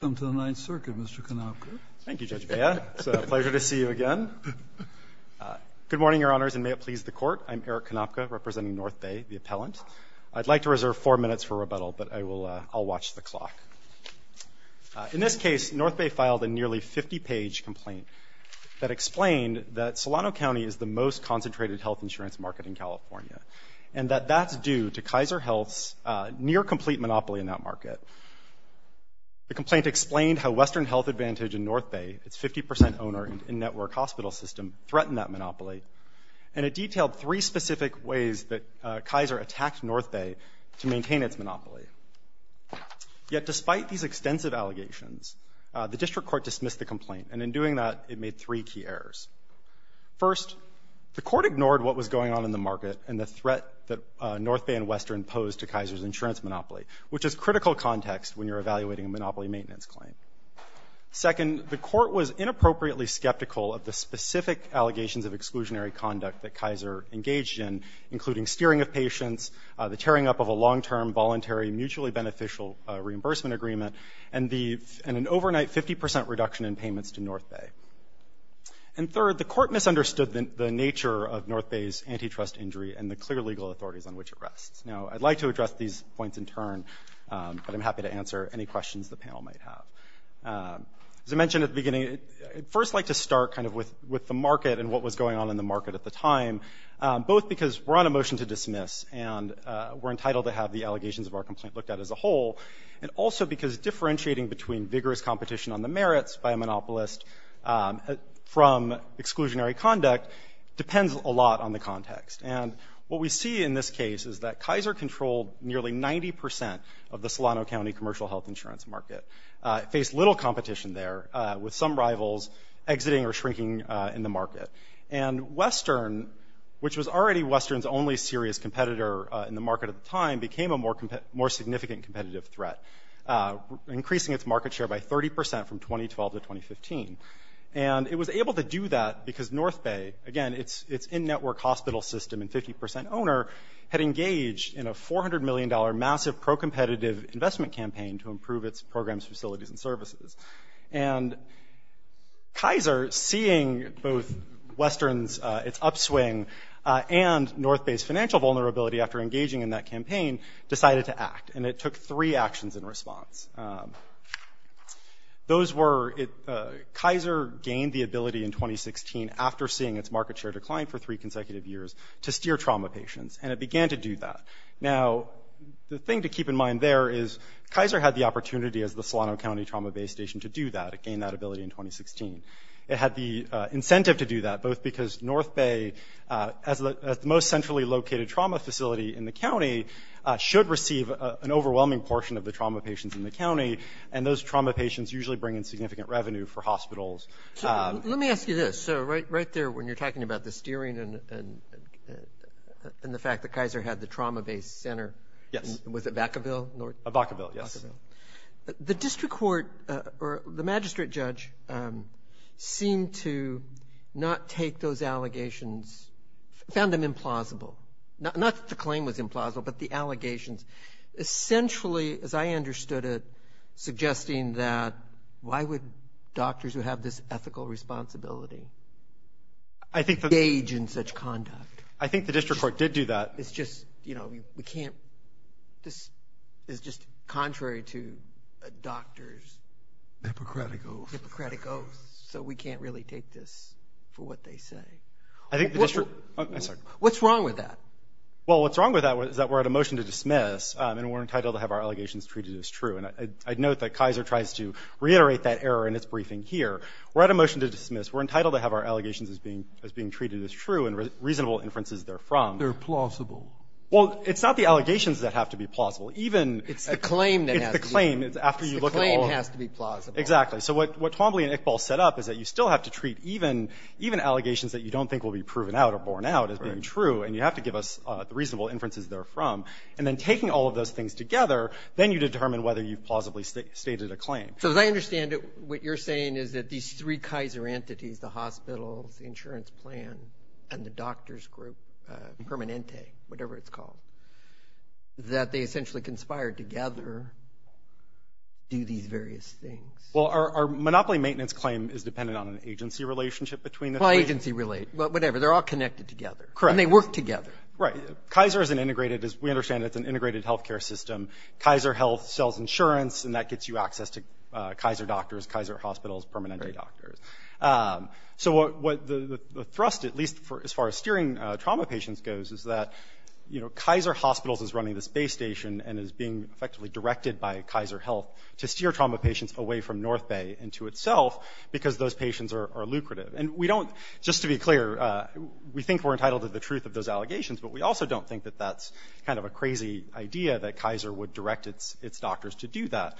Welcome to the Ninth Circuit, Mr. Konopka. Thank you, Judge Bea. It's a pleasure to see you again. Good morning, Your Honors, and may it please the Court. I'm Eric Konopka, representing North Bay, the appellant. I'd like to reserve four minutes for rebuttal, but I'll watch the clock. In this case, North Bay filed a nearly 50-page complaint that explained that Solano County is the most concentrated health insurance market in California, and that that's due to Kaiser Health's near-complete monopoly in that market. The complaint explained how Western Health Advantage in North Bay, its 50 percent owner and network hospital system, threatened that monopoly, and it detailed three specific ways that Kaiser attacked North Bay to maintain its monopoly. Yet despite these extensive allegations, the District Court dismissed the complaint, and in doing that, it made three key errors. First, the Court ignored what was going on in the market and the threat that North Bay and Western posed to Kaiser's insurance monopoly, which is critical context when you're evaluating a monopoly maintenance claim. Second, the Court was inappropriately skeptical of the specific allegations of exclusionary conduct that Kaiser engaged in, including steering of patients, the tearing up of a long-term, voluntary, mutually beneficial reimbursement agreement, and an overnight 50 percent reduction in payments to North Bay. And third, the Court misunderstood the nature of North Bay's antitrust injury and the clear legal authorities on which it rests. Now, I'd like to address these points in turn, but I'm happy to answer any questions the panel might have. As I mentioned at the beginning, I'd first like to start kind of with the market and what was going on in the market at the time, both because we're on a motion to dismiss and we're entitled to have the allegations of our complaint looked at as a whole, and also because differentiating between vigorous competition on the merits by a monopolist from exclusionary conduct depends a lot on the context. And what we see in this case is that Kaiser controlled nearly 90 percent of the Solano County commercial health insurance market. It faced little competition there, with some rivals exiting or shrinking in the market. And Western, which was already Western's only serious competitor in the market at the time, became a more significant competitive threat, increasing its market share by 30 percent from 2012 to 2015. And it was able to do that because North Bay, again, its in-network hospital system and 50 percent owner, had engaged in a $400 million massive pro-competitive investment campaign to improve its programs, facilities, and services. And Kaiser, seeing both Western's upswing and North Bay's financial vulnerability after engaging in that campaign, decided to act. And it took three actions in response. Those were, Kaiser gained the ability in 2016, after seeing its market share decline for three consecutive years, to steer trauma patients. And it began to do that. Now, the thing to keep in mind there is Kaiser had the opportunity, as the Solano County Trauma Bay Station, to do that. It gained that ability in 2016. It had the incentive to do that, both because North Bay, as the most centrally located trauma facility in the county, should receive an overwhelming portion of the trauma patients in the county, and those trauma patients usually bring in significant revenue for hospitals. Let me ask you this. Right there, when you're talking about the steering and the fact that Kaiser had the trauma-based center, was it Vacaville? Vacaville, yes. The district court, or the magistrate judge, seemed to not take those allegations, found them implausible. Not that the claim was implausible, but the allegations. Essentially, as I understood it, suggesting that why would doctors who have this ethical responsibility engage in such conduct? I think the district court did do that. It's just, you know, we can't. This is just contrary to a doctor's. Hippocratic oath. Hippocratic oath, so we can't really take this for what they say. I think the district. I'm sorry. What's wrong with that? Well, what's wrong with that is that we're at a motion to dismiss, and we're entitled to have our allegations treated as true. And I'd note that Kaiser tries to reiterate that error in its briefing here. We're at a motion to dismiss. We're entitled to have our allegations as being treated as true and reasonable inferences they're from. They're plausible. Well, it's not the allegations that have to be plausible. Even. It's the claim that has to be. It's the claim. It's the claim has to be plausible. Exactly. So what Twombly and Iqbal set up is that you still have to treat even allegations that you don't think will be proven out or borne out as being true, and you have to give us the reasonable inferences they're from. And then taking all of those things together, then you determine whether you've plausibly stated a claim. So as I understand it, what you're saying is that these three Kaiser entities, the hospitals, the insurance plan, and the doctors group, Permanente, whatever it's called, that they essentially conspired together to do these various things. Well, our monopoly maintenance claim is dependent on an agency relationship between the three. Well, agency, whatever. They're all connected together. Correct. And they work together. Right. Kaiser is an integrated, as we understand it, it's an integrated health care system. Kaiser Health sells insurance, and that gets you access to Kaiser doctors, Kaiser hospitals, Permanente doctors. So what the thrust, at least as far as steering trauma patients goes, is that, you know, Kaiser Hospitals is running this base station and is being effectively directed by Kaiser Health to steer trauma patients away from North Bay and to itself because those patients are lucrative. And we don't, just to be clear, we think we're entitled to the truth of those allegations, but we also don't think that that's kind of a crazy idea that Kaiser would direct its doctors to do that.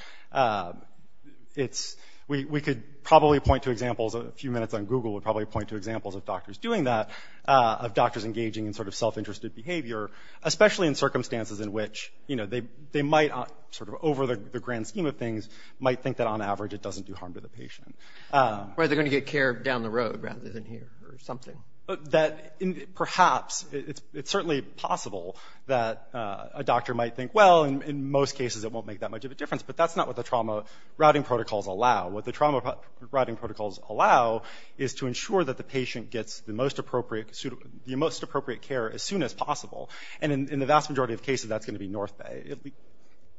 We could probably point to examples, a few minutes on Google would probably point to examples of doctors doing that, of doctors engaging in sort of self-interested behavior, especially in circumstances in which, you know, they might sort of over the grand scheme of things might think that on average it doesn't do harm to the patient. Or they're going to get care down the road rather than here or something. That perhaps it's certainly possible that a doctor might think, well, in most cases it won't make that much of a difference, but that's not what the trauma routing protocols allow. What the trauma routing protocols allow is to ensure that the patient gets the most appropriate care as soon as possible. And in the vast majority of cases that's going to be North Bay.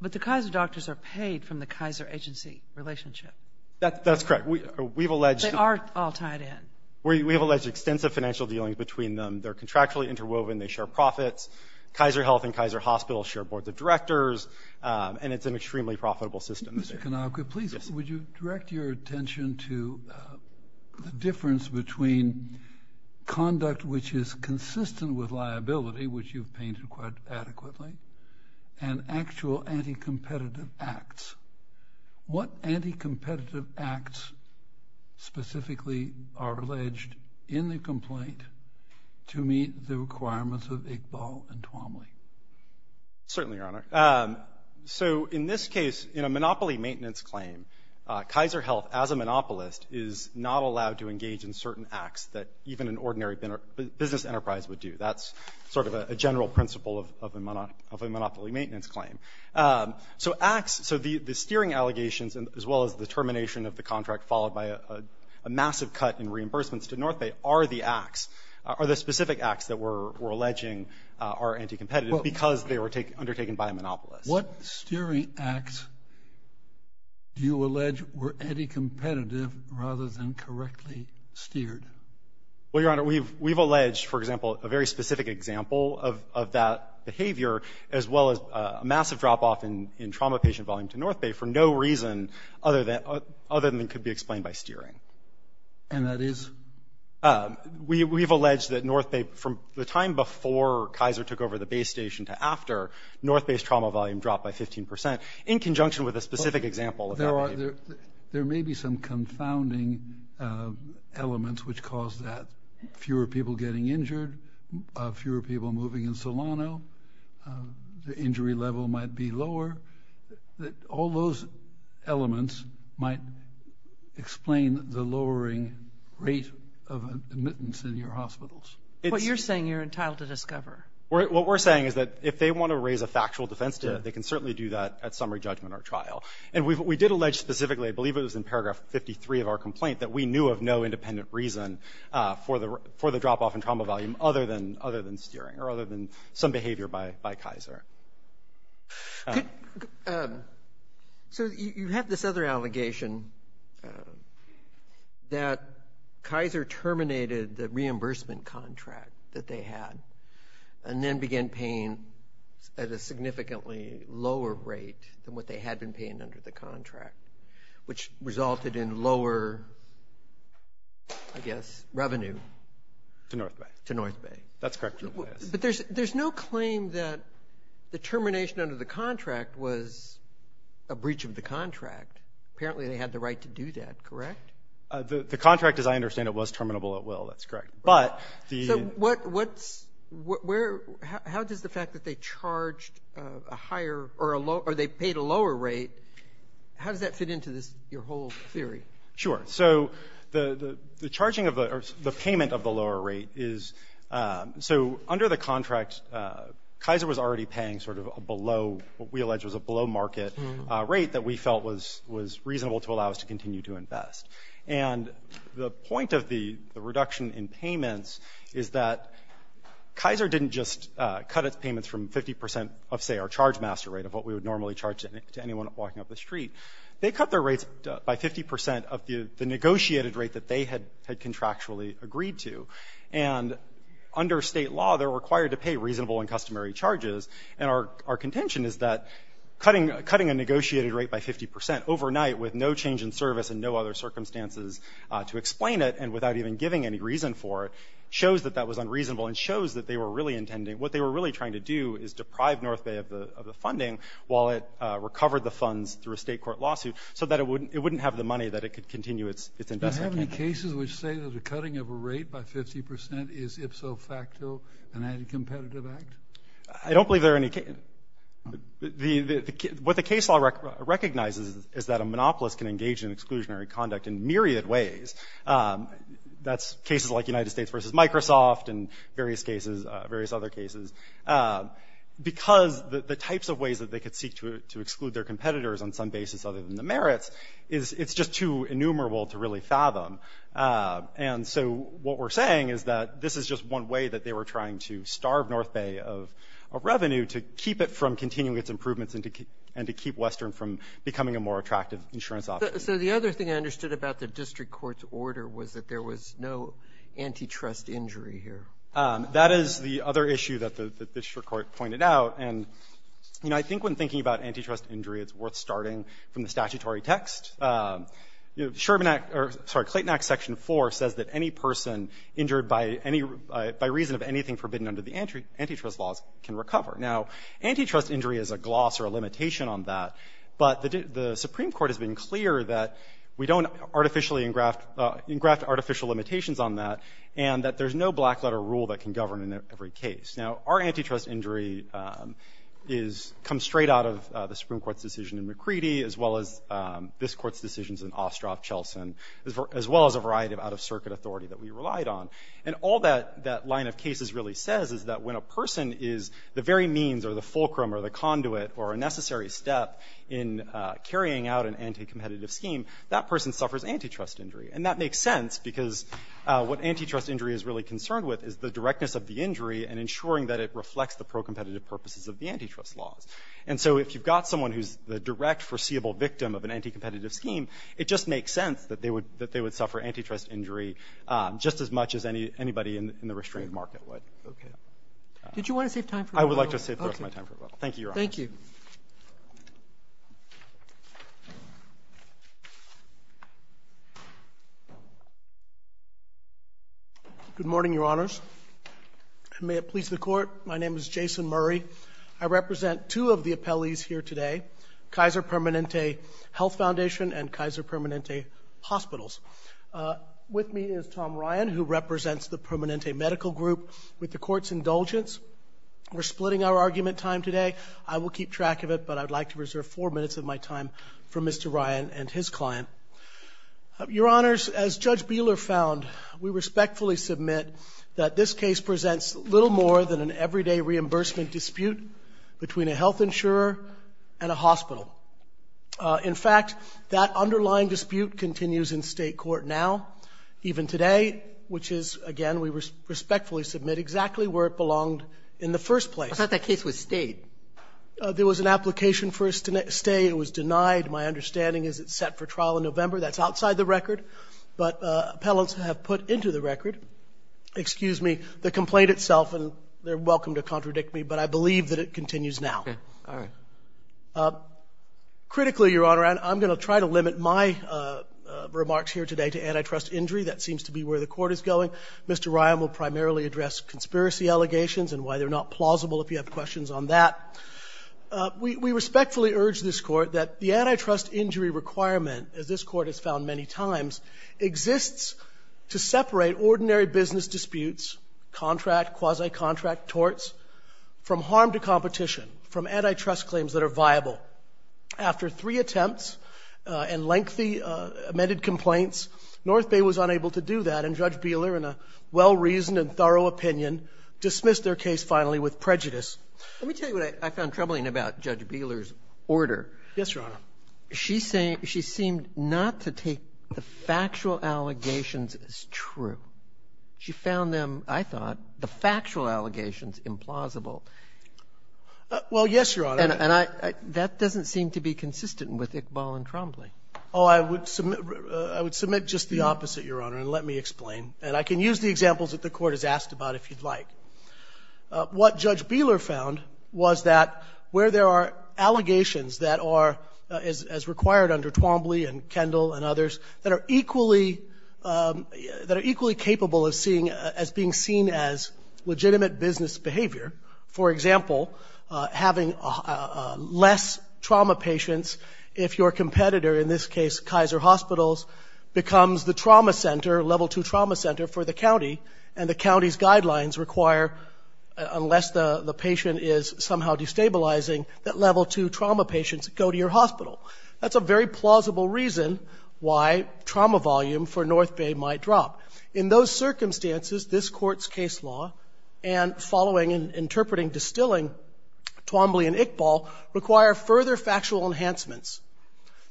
But the Kaiser doctors are paid from the Kaiser agency relationship. That's correct. They are all tied in. We have alleged extensive financial dealings between them. They're contractually interwoven. They share profits. Kaiser Health and Kaiser Hospital share boards of directors, and it's an extremely profitable system. Mr. Kanaka, please, would you direct your attention to the difference between conduct which is consistent with liability, which you've painted quite adequately, and actual anti-competitive acts. What anti-competitive acts specifically are alleged in the complaint to meet the requirements of Iqbal and Twomley? Certainly, Your Honor. So in this case, in a monopoly maintenance claim, Kaiser Health, as a monopolist, is not allowed to engage in certain acts that even an ordinary business enterprise would do. That's sort of a general principle of a monopoly maintenance claim. So acts, so the steering allegations as well as the termination of the contract, followed by a massive cut in reimbursements to North Bay, are the specific acts that we're alleging are anti-competitive because they were undertaken by a monopolist. What steering acts do you allege were anti-competitive rather than correctly steered? Well, Your Honor, we've alleged, for example, a very specific example of that behavior as well as a massive drop-off in trauma patient volume to North Bay for no reason other than it could be explained by steering. And that is? We've alleged that North Bay, from the time before Kaiser took over the base station to after, North Bay's trauma volume dropped by 15 percent in conjunction with a specific example of that behavior. There may be some confounding elements which cause that. Fewer people moving in Solano. The injury level might be lower. All those elements might explain the lowering rate of admittance in your hospitals. What you're saying you're entitled to discover? What we're saying is that if they want to raise a factual defense to it, they can certainly do that at summary judgment or trial. And we did allege specifically, I believe it was in paragraph 53 of our complaint, that we knew of no independent reason for the drop-off in trauma volume other than steering or other than some behavior by Kaiser. So you have this other allegation that Kaiser terminated the reimbursement contract that they had and then began paying at a significantly lower rate than what they had been paying under the contract, which resulted in lower, I guess, revenue. To North Bay. To North Bay. That's correct. But there's no claim that the termination under the contract was a breach of the contract. Apparently they had the right to do that, correct? The contract, as I understand it, was terminable at will. That's correct. So how does the fact that they charged a higher or they paid a lower rate, how does that fit into your whole theory? Sure. So the charging of the payment of the lower rate is so under the contract, Kaiser was already paying sort of below what we allege was a below market rate that we felt was reasonable to allow us to continue to invest. And the point of the reduction in payments is that Kaiser didn't just cut its payments from 50 percent of, say, our charge master rate of what we would normally charge to anyone walking up the street. They cut their rates by 50 percent of the negotiated rate that they had contractually agreed to. And under state law, they're required to pay reasonable and customary charges. And our contention is that cutting a negotiated rate by 50 percent overnight with no change in service and no other circumstances to explain it and without even giving any reason for it shows that that was unreasonable and shows that they were really intending, what they were really trying to do is deprive North Bay of the funding while it recovered the funds through a state court lawsuit so that it wouldn't have the money that it could continue its investment. Do you have any cases which say that a cutting of a rate by 50 percent is ipso facto an anti-competitive act? I don't believe there are any cases. What the case law recognizes is that a monopolist can engage in exclusionary conduct in myriad ways. That's cases like United States versus Microsoft and various other cases. Because the types of ways that they could seek to exclude their competitors on some basis other than the merits, it's just too innumerable to really fathom. And so what we're saying is that this is just one way that they were trying to starve North Bay of revenue to keep it from continuing its improvements and to keep Western from becoming a more attractive insurance option. So the other thing I understood about the district court's order was that there was no antitrust injury here. That is the other issue that the district court pointed out. And, you know, I think when thinking about antitrust injury, it's worth starting from the statutory text. You know, Sherman Act, or sorry, Clayton Act Section 4 says that any person injured by any, by reason of anything forbidden under the antitrust laws can recover. Now, antitrust injury is a gloss or a limitation on that, but the Supreme Court has been clear that we don't artificially engraft artificial limitations on that and that there's no black-letter rule that can govern in every case. Now, our antitrust injury comes straight out of the Supreme Court's decision in McCready as well as this court's decisions in Ostroff, Chelson, as well as a variety of out-of-circuit authority that we relied on. And all that line of cases really says is that when a person is the very means or the fulcrum or the conduit or a necessary step in carrying out an anti-competitive scheme, that person suffers antitrust injury. And that makes sense because what antitrust injury is really concerned with is the directness of the injury and ensuring that it reflects the pro-competitive purposes of the antitrust laws. And so if you've got someone who's the direct foreseeable victim of an anti-competitive scheme, it just makes sense that they would suffer antitrust injury just as much as anybody in the restrained market would. Okay. Did you want to save time for a little? I would like to save the rest of my time for a little. Okay. Thank you, Your Honor. Thank you. Good morning, Your Honors. And may it please the Court, my name is Jason Murray. I represent two of the appellees here today, Kaiser Permanente Health Foundation and Kaiser Permanente Hospitals. With me is Tom Ryan, who represents the Permanente Medical Group. With the Court's indulgence, we're splitting our argument time today. I will keep track of it, but I would like to reserve four minutes of my time for Mr. Ryan and his client. Your Honors, as Judge Bieler found, we respectfully submit that this case presents little more than an everyday reimbursement dispute between a health insurer and a hospital. In fact, that underlying dispute continues in State court now, even today, which is, again, we respectfully submit exactly where it belonged in the first place. I thought that case was stayed. There was an application for a stay. It was denied. My understanding is it's set for trial in November. That's outside the record, but appellants have put into the record, excuse me, the complaint itself, and they're welcome to contradict me, but I believe that it continues now. All right. Critically, Your Honor, and I'm going to try to limit my remarks here today to antitrust injury. That seems to be where the Court is going. Mr. Ryan will primarily address conspiracy allegations and why they're not plausible if you have questions on that. We respectfully urge this Court that the antitrust injury requirement, as this Court has found many times, exists to separate ordinary business disputes, contract, quasi-contract, torts, from harm to competition, from antitrust claims that are viable. After three attempts and lengthy amended complaints, North Bay was unable to do that, and Judge Bieler, in a well-reasoned and thorough opinion, dismissed their case finally with prejudice. Let me tell you what I found troubling about Judge Bieler's order. Yes, Your Honor. She seemed not to take the factual allegations as true. She found them, I thought, the factual allegations implausible. Well, yes, Your Honor. And that doesn't seem to be consistent with Iqbal and Trombley. Oh, I would submit just the opposite, Your Honor, and let me explain. And I can use the examples that the Court has asked about if you'd like. What Judge Bieler found was that where there are allegations that are, as required under Trombley and Kendall and others, that are equally capable of being seen as legitimate business behavior, for example, having less trauma patients if your competitor, in this case, Kaiser Hospitals, becomes the trauma center, level two trauma center for the county, and the county's guidelines require, unless the patient is somehow destabilizing, that level two trauma patients go to your hospital. That's a very plausible reason why trauma volume for North Bay might drop. In those circumstances, this Court's case law, and following and interpreting distilling Trombley and Iqbal, require further factual enhancements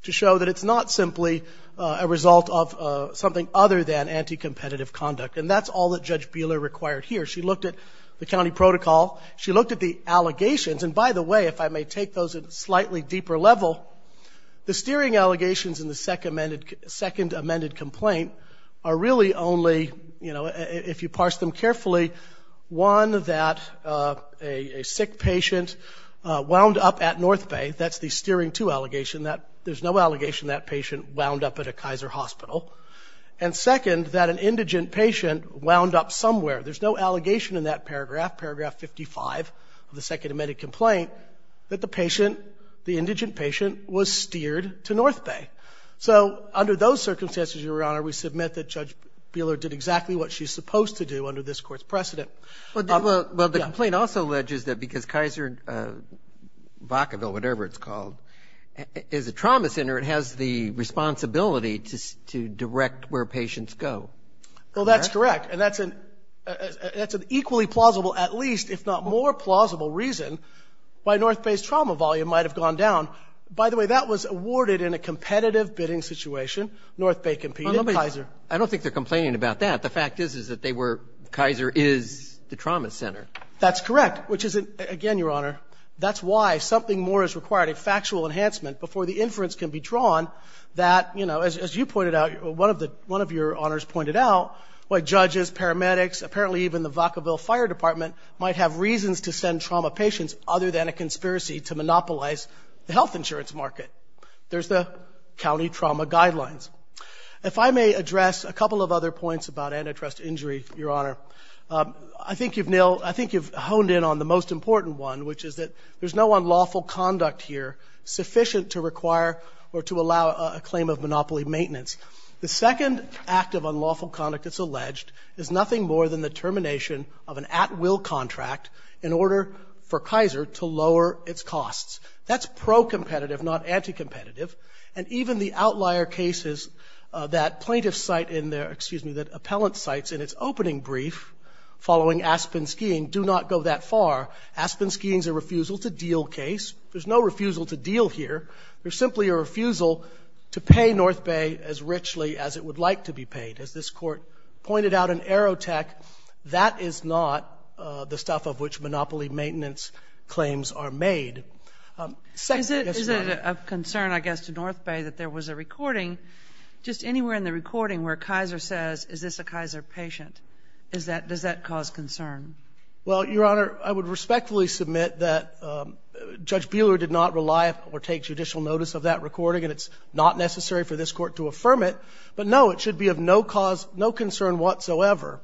to show that it's not simply a result of something other than anti-competitive conduct. And that's all that Judge Bieler required here. She looked at the county protocol. She looked at the allegations. And by the way, if I may take those at a slightly deeper level, the steering allegations in the second amended complaint are really only, if you parse them carefully, one, that a sick patient wound up at North Bay. That's the steering two allegation. There's no allegation that patient wound up at a Kaiser hospital. And second, that an indigent patient wound up somewhere. There's no allegation in that paragraph, paragraph 55 of the second amended complaint, that the patient, the indigent patient, was steered to North Bay. So under those circumstances, Your Honor, we submit that Judge Bieler did exactly what she's supposed to do under this Court's precedent. Well, the complaint also alleges that because Kaiser, Vacaville, whatever it's called, is a trauma center, it has the responsibility to direct where patients go. Well, that's correct. And that's an equally plausible, at least, if not more plausible, reason why North Bay's trauma volume might have gone down. By the way, that was awarded in a competitive bidding situation. North Bay competed, Kaiser. I don't think they're complaining about that. The fact is, is that they were, Kaiser is the trauma center. That's correct, which is, again, Your Honor, that's why something more is required, a factual enhancement, before the inference can be drawn that, you know, as you pointed out, one of your honors pointed out, why judges, paramedics, apparently even the Vacaville Fire Department might have reasons to send trauma patients other than a conspiracy to monopolize the health insurance market. There's the county trauma guidelines. If I may address a couple of other points about antitrust injury, Your Honor, I think you've honed in on the most important one, which is that there's no unlawful conduct here sufficient to require or to allow a claim of monopoly maintenance. The second act of unlawful conduct, it's alleged, is nothing more than the termination of an at-will contract in order for Kaiser to lower its costs. That's pro-competitive, not anti-competitive, and even the outlier cases that plaintiffs cite in their, excuse me, that appellants cite in its opening brief following Aspen skiing do not go that far. Aspen skiing's a refusal-to-deal case. There's no refusal-to-deal here. There's simply a refusal to pay North Bay as richly as it would like to be paid. As this Court pointed out in Aerotech, that is not the stuff of which monopoly maintenance claims are made. Is it of concern, I guess, to North Bay that there was a recording, just anywhere in the recording, where Kaiser says, is this a Kaiser patient? Does that cause concern? Well, Your Honor, I would respectfully submit that Judge Buehler did not rely or take judicial notice of that recording, and it's not necessary for this Court to affirm it. But, no, it should be of no cause, no concern whatsoever.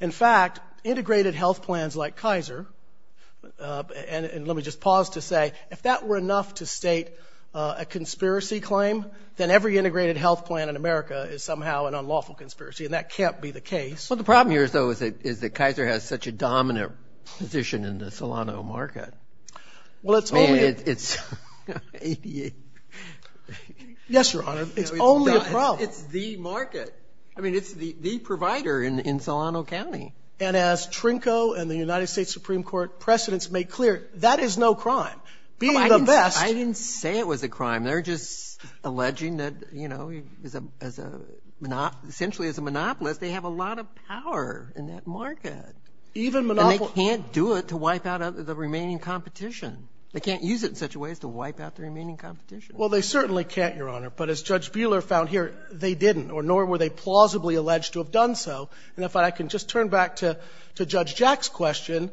In fact, integrated health plans like Kaiser, and let me just pause to say, if that were enough to state a conspiracy claim, then every integrated health plan in America is somehow an unlawful conspiracy, and that can't be the case. Well, the problem here, though, is that Kaiser has such a dominant position in the Solano market. Well, it's only a... I mean, it's... Yes, Your Honor, it's only a problem. It's the market. I mean, it's the provider in Solano County. And as Trinko and the United States Supreme Court precedents made clear, that is no crime. Being the best... I didn't say it was a crime. They're just alleging that, you know, essentially as a monopolist, they have a lot of power in that market. Even monopolists... And they can't do it to wipe out the remaining competition. They can't use it in such a way as to wipe out the remaining competition. Well, they certainly can't, Your Honor. But as Judge Buehler found here, they didn't, nor were they plausibly alleged to have done so. And if I can just turn back to Judge Jack's question,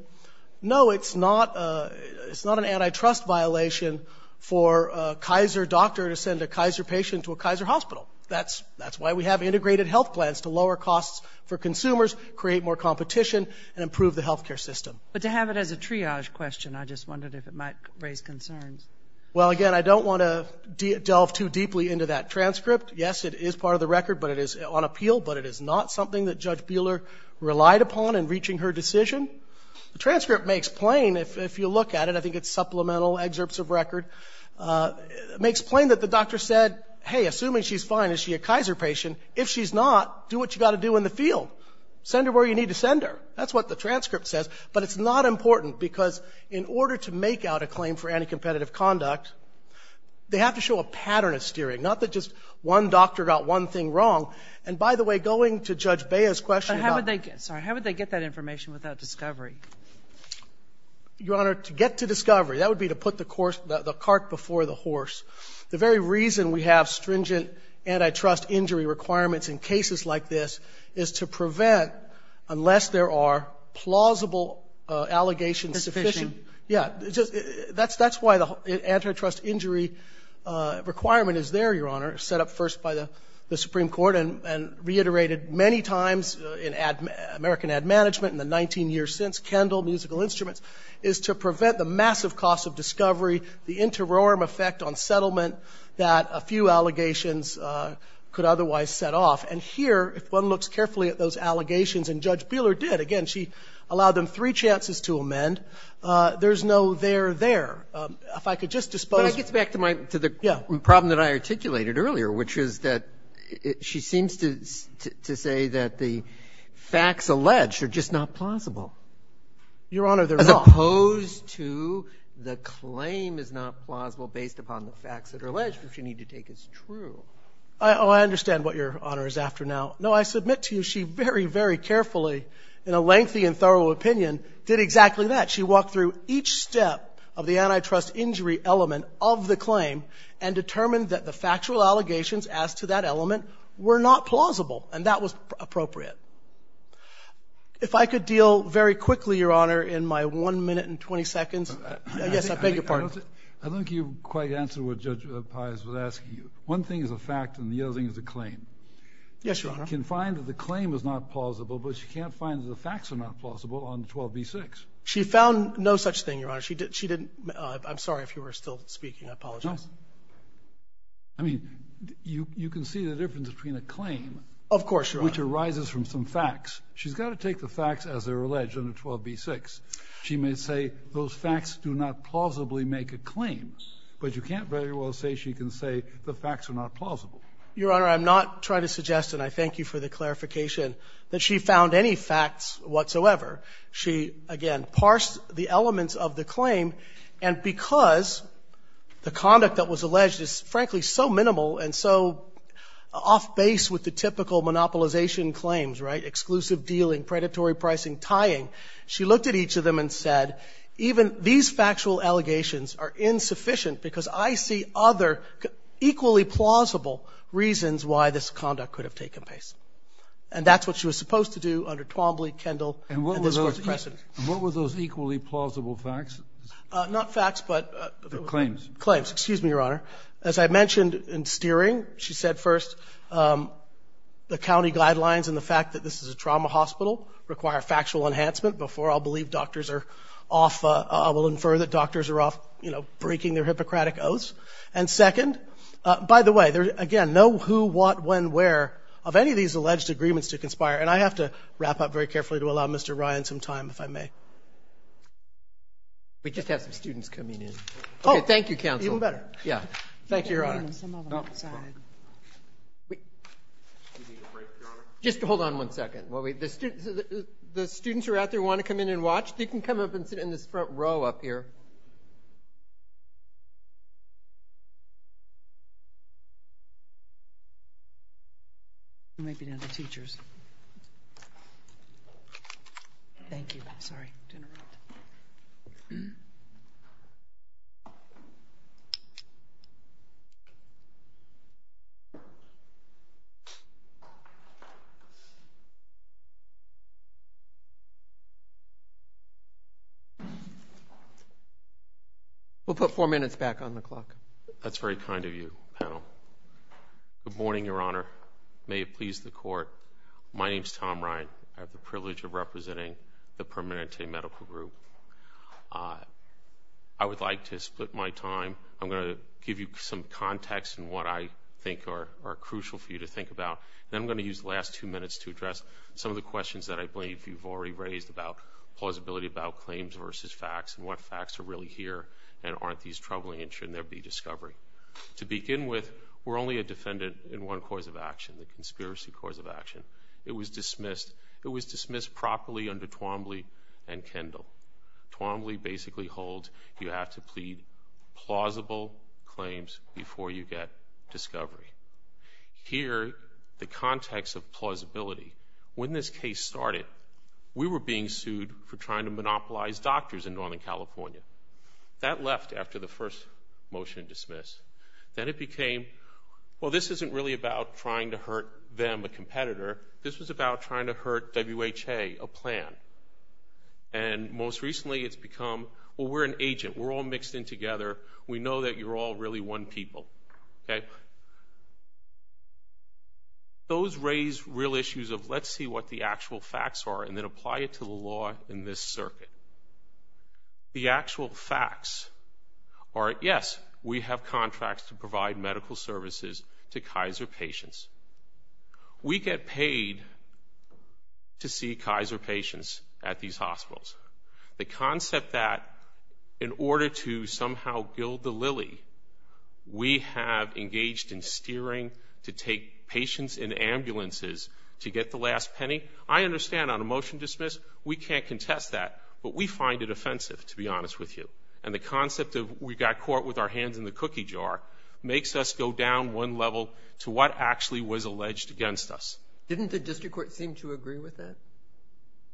no, it's not an antitrust violation for a Kaiser doctor to send a Kaiser patient to a Kaiser hospital. That's why we have integrated health plans to lower costs for consumers, create more competition, and improve the health care system. But to have it as a triage question, I just wondered if it might raise concerns. Well, again, I don't want to delve too deeply into that transcript. Yes, it is part of the record, but it is on appeal, but it is not something that Judge Buehler relied upon in reaching her decision. The transcript makes plain, if you look at it, I think it's supplemental excerpts of record, it makes plain that the doctor said, hey, assuming she's fine, is she a Kaiser patient? If she's not, do what you've got to do in the field. Send her where you need to send her. That's what the transcript says. But it's not important, because in order to make out a claim for anticompetitive conduct, they have to show a pattern of steering, not that just one doctor got one thing wrong. And, by the way, going to Judge Buehler's question about ‑‑ But how would they get that information without discovery? Your Honor, to get to discovery, that would be to put the cart before the horse. The very reason we have stringent antitrust injury requirements in cases like this is to prevent, unless there are plausible allegations sufficient ‑‑ It's efficient. Yeah. That's why the antitrust injury requirement is there, Your Honor, set up first by the Supreme Court and reiterated many times in American Ad Management and the 19 years since, Kendall Musical Instruments, is to prevent the massive cost of discovery, the interim effect on settlement that a few allegations could otherwise set off. And here, if one looks carefully at those allegations, and Judge Buehler did. Again, she allowed them three chances to amend. There's no there there. If I could just dispose ‑‑ But that gets back to the problem that I articulated earlier, which is that she seems to say that the facts alleged are just not plausible. Your Honor, they're not. As opposed to the claim is not plausible based upon the facts that are alleged, which you need to take as true. Oh, I understand what Your Honor is after now. No, I submit to you she very, very carefully, in a lengthy and thorough opinion, did exactly that. She walked through each step of the antitrust injury element of the claim and determined that the factual allegations as to that element were not plausible, and that was appropriate. If I could deal very quickly, Your Honor, in my one minute and 20 seconds. Yes, I beg your pardon. I don't think you quite answered what Judge Pius was asking. One thing is a fact and the other thing is a claim. Yes, Your Honor. She can find that the claim is not plausible, but she can't find that the facts are not plausible on 12b6. She found no such thing, Your Honor. She didn't ‑‑ I'm sorry if you were still speaking. I apologize. No. I mean, you can see the difference between a claim, which arises from some facts. She's got to take the facts as they're alleged under 12b6. She may say those facts do not plausibly make a claim, but you can't very well say she can say the facts are not plausible. Your Honor, I'm not trying to suggest, and I thank you for the clarification, that she found any facts whatsoever. She, again, parsed the elements of the claim, and because the conduct that was alleged is, frankly, so minimal and so off base with the typical monopolization claims, right, exclusive dealing, predatory pricing, tying, she looked at each of them and said, even these factual allegations are insufficient because I see other equally plausible reasons why this conduct could have taken place. And that's what she was supposed to do under Twombly, Kendall, and this Court's precedent. And what were those equally plausible facts? Not facts, but ‑‑ Claims. Claims. Excuse me, Your Honor. As I mentioned in steering, she said first, the county guidelines and the fact that this is a trauma hospital require factual enhancement before I'll believe doctors are off, I will infer that doctors are off, you know, breaking their Hippocratic oaths. And second, by the way, there's, again, no who, what, when, where of any of these alleged agreements to conspire. And I have to wrap up very carefully to allow Mr. Ryan some time, if I may. We just have some students coming in. Oh. Okay, thank you, counsel. Even better. Yeah. Thank you, Your Honor. Some of them outside. Wait. Excuse me, Your Honor. Just hold on one second. The students who are out there who want to come in and watch, they can come up and sit in this front row up here. Maybe not the teachers. Thank you. Sorry to interrupt. We'll put four minutes back on the clock. That's very kind of you, panel. Good morning, Your Honor. May it please the Court. My name's Tom Ryan. I have the privilege of representing the Permanente Medical Group. I would like to split my time. I'm going to give you some context in what I think are crucial for you to think about, and then I'm going to use the last two minutes to address some of the questions that I have. Some of the questions that I believe you've already raised about plausibility, about claims versus facts, and what facts are really here, and aren't these troubling, and should there be discovery. To begin with, we're only a defendant in one cause of action, the conspiracy cause of action. It was dismissed properly under Twombly and Kendall. Twombly basically holds you have to plead plausible claims before you get discovery. Here, the context of plausibility, when this case started, we were being sued for trying to monopolize doctors in Northern California. That left after the first motion dismissed. Then it became, well, this isn't really about trying to hurt them, a competitor. This was about trying to hurt WHA, a plan. And most recently it's become, well, we're an agent. We're all mixed in together. We know that you're all really one people. Those raise real issues of let's see what the actual facts are and then apply it to the law in this circuit. The actual facts are, yes, we have contracts to provide medical services to Kaiser patients. We get paid to see Kaiser patients at these hospitals. The concept that in order to somehow gild the lily, we have engaged in steering to take patients in ambulances to get the last penny, I understand on a motion dismissed we can't contest that, but we find it offensive, to be honest with you. And the concept of we got caught with our hands in the cookie jar makes us go down one level to what actually was alleged against us. Didn't the district court seem to agree with that?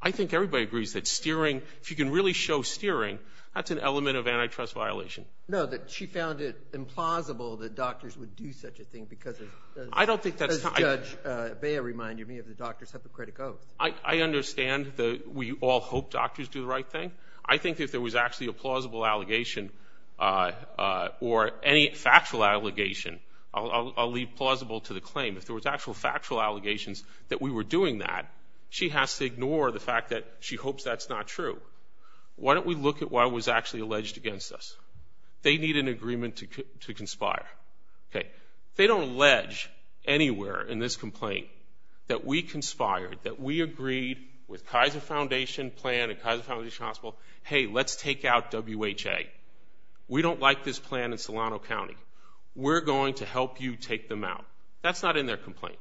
I think everybody agrees that steering, if you can really show steering, that's an element of antitrust violation. No, that she found it implausible that doctors would do such a thing because Judge Bea reminded me of the doctor's hypocritical. I understand that we all hope doctors do the right thing. I think if there was actually a plausible allegation or any factual allegation, I'll leave plausible to the claim, if there was actual factual allegations that we were doing that, she has to ignore the fact that she hopes that's not true. Why don't we look at what was actually alleged against us? They need an agreement to conspire. They don't allege anywhere in this complaint that we conspired, that we agreed with Kaiser Foundation plan and Kaiser Foundation Hospital, hey, let's take out WHA. We don't like this plan in Solano County. We're going to help you take them out. That's not in their complaint.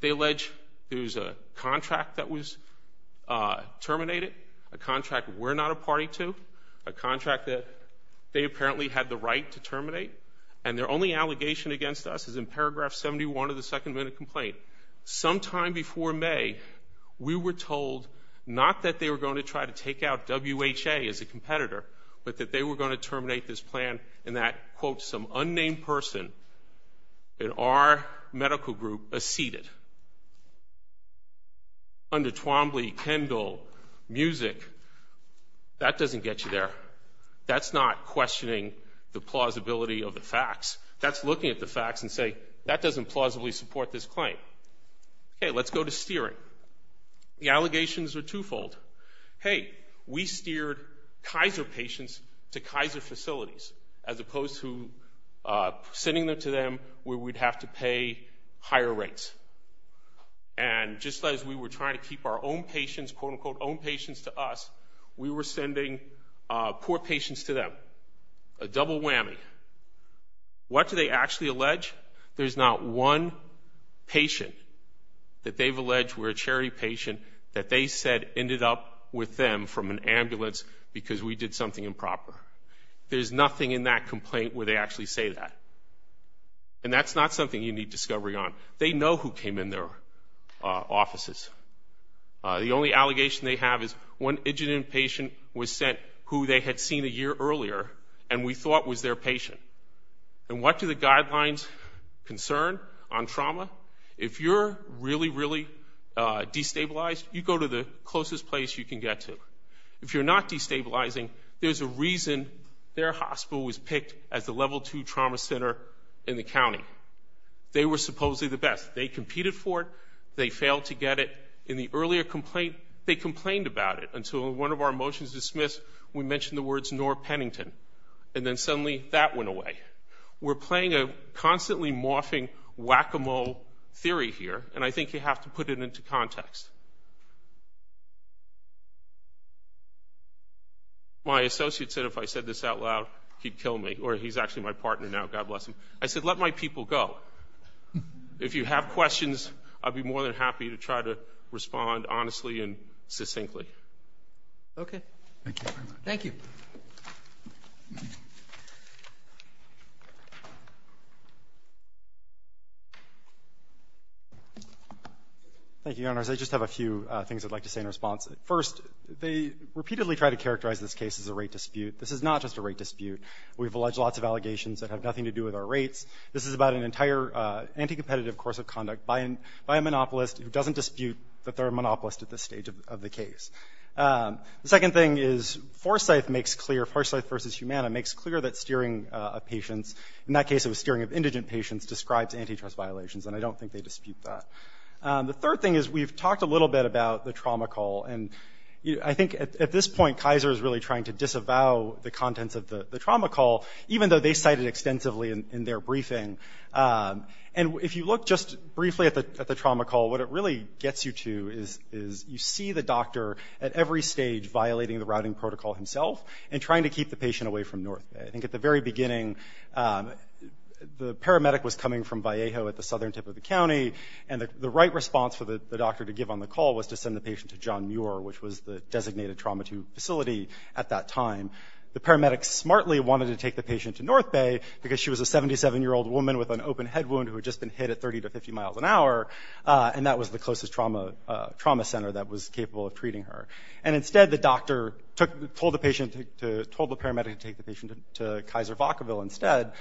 They allege there was a contract that was terminated, a contract we're not a party to, a contract that they apparently had the right to terminate, and their only allegation against us is in paragraph 71 of the second minute complaint. Sometime before May, we were told not that they were going to try to take out WHA as a competitor, but that they were going to terminate this plan and that, quote, some unnamed person in our medical group acceded. Under Twombly, Kendall, Music, that doesn't get you there. That's not questioning the plausibility of the facts. That's looking at the facts and saying that doesn't plausibly support this claim. Hey, let's go to steering. The allegations are twofold. Hey, we steered Kaiser patients to Kaiser facilities as opposed to sending them to them where we'd have to pay higher rates. And just as we were trying to keep our own patients, quote, unquote, own patients to us, we were sending poor patients to them. A double whammy. What do they actually allege? There's not one patient that they've alleged were a charity patient that they said ended up with them from an ambulance because we did something improper. There's nothing in that complaint where they actually say that. And that's not something you need discovery on. They know who came in their offices. The only allegation they have is one injured inpatient was sent who they had seen a year earlier and we thought was their patient. And what do the guidelines concern on trauma? If you're really, really destabilized, you go to the closest place you can get to. If you're not destabilizing, there's a reason their hospital was picked as the level two trauma center in the county. They were supposedly the best. They competed for it. They failed to get it. In the earlier complaint, they complained about it until in one of our motions dismissed we mentioned the words Norr Pennington. And then suddenly that went away. We're playing a constantly morphing whack-a-mole theory here, and I think you have to put it into context. My associate said if I said this out loud, he'd kill me, or he's actually my partner now, God bless him. I said let my people go. If you have questions, I'd be more than happy to try to respond honestly and succinctly. Okay. Thank you very much. Thank you. Thank you, Your Honors. I just have a few things I'd like to say in response. First, they repeatedly try to characterize this case as a rate dispute. This is not just a rate dispute. We've alleged lots of allegations that have nothing to do with our rates. This is about an entire anti-competitive course of conduct by a monopolist who doesn't dispute that they're a monopolist at this stage of the case. The second thing is Forsyth makes clear, Forsyth versus Humana, makes clear that steering of patients, in that case it was steering of indigent patients, describes antitrust violations, and I don't think they dispute that. The third thing is we've talked a little bit about the trauma call, and I think at this point Kaiser is really trying to disavow the contents of the trauma call, even though they cited it extensively in their briefing. And if you look just briefly at the trauma call, what it really gets you to is you see the doctor at every stage violating the routing protocol himself and trying to keep the patient away from North Bay. I think at the very beginning, the paramedic was coming from Vallejo at the southern tip of the county, and the right response for the doctor to give on the call was to send the patient to John Muir, which was the designated trauma facility at that time. The paramedic smartly wanted to take the patient to North Bay because she was a 77-year-old woman with an open head wound who had just been hit at 30 to 50 miles an hour, and that was the closest trauma center that was capable of treating her. And instead the doctor told the paramedic to take the patient to Kaiser Vacaville instead,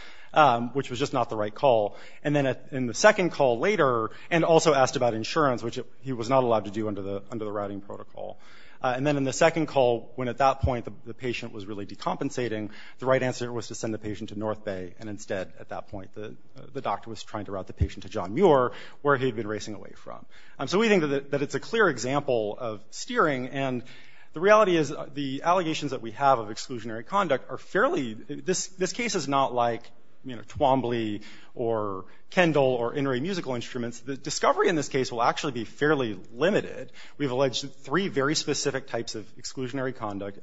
which was just not the right call. And then in the second call later, and also asked about insurance, which he was not allowed to do under the routing protocol. And then in the second call, when at that point the patient was really decompensating, the right answer was to send the patient to North Bay, and instead at that point the doctor was trying to route the patient to John Muir, where he had been racing away from. So we think that it's a clear example of steering, and the reality is the allegations that we have of exclusionary conduct are fairly— this case is not like Twombly or Kendall or In Ray Musical Instruments. The discovery in this case will actually be fairly limited. We've alleged three very specific types of exclusionary conduct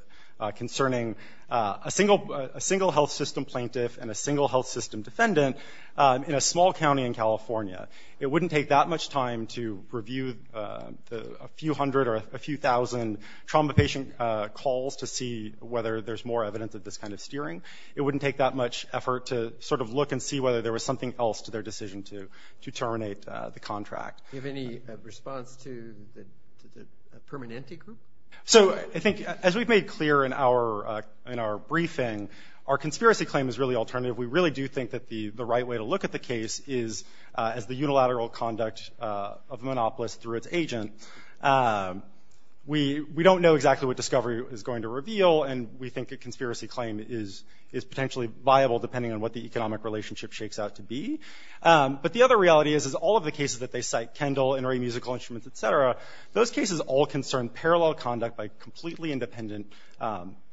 concerning a single health system plaintiff and a single health system defendant in a small county in California. It wouldn't take that much time to review a few hundred or a few thousand trauma patient calls to see whether there's more evidence of this kind of steering. It wouldn't take that much effort to sort of look and see whether there was something else to their decision to terminate the contract. Do you have any response to the Permanente group? So I think, as we've made clear in our briefing, our conspiracy claim is really alternative. We really do think that the right way to look at the case is as the unilateral conduct of Monopolis through its agent. We don't know exactly what discovery is going to reveal, and we think a conspiracy claim is potentially viable depending on what the economic relationship shakes out to be. But the other reality is all of the cases that they cite, Kendall, In Ray Musical Instruments, et cetera, those cases all concern parallel conduct by completely independent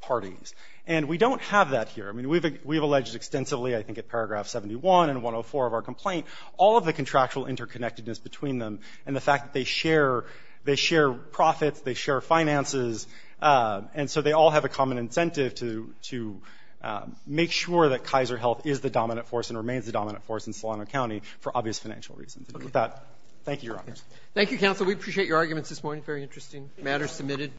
parties. And we don't have that here. We've alleged extensively, I think, at paragraph 71 and 104 of our complaint, all of the contractual interconnectedness between them and the fact that they share profits, they share finances, and so they all have a common incentive to make sure that Kaiser Health is the dominant force and remains the dominant force in Solano County for obvious financial reasons. And with that, thank you, Your Honors. Thank you, Counsel. We appreciate your arguments this morning. Very interesting matter submitted.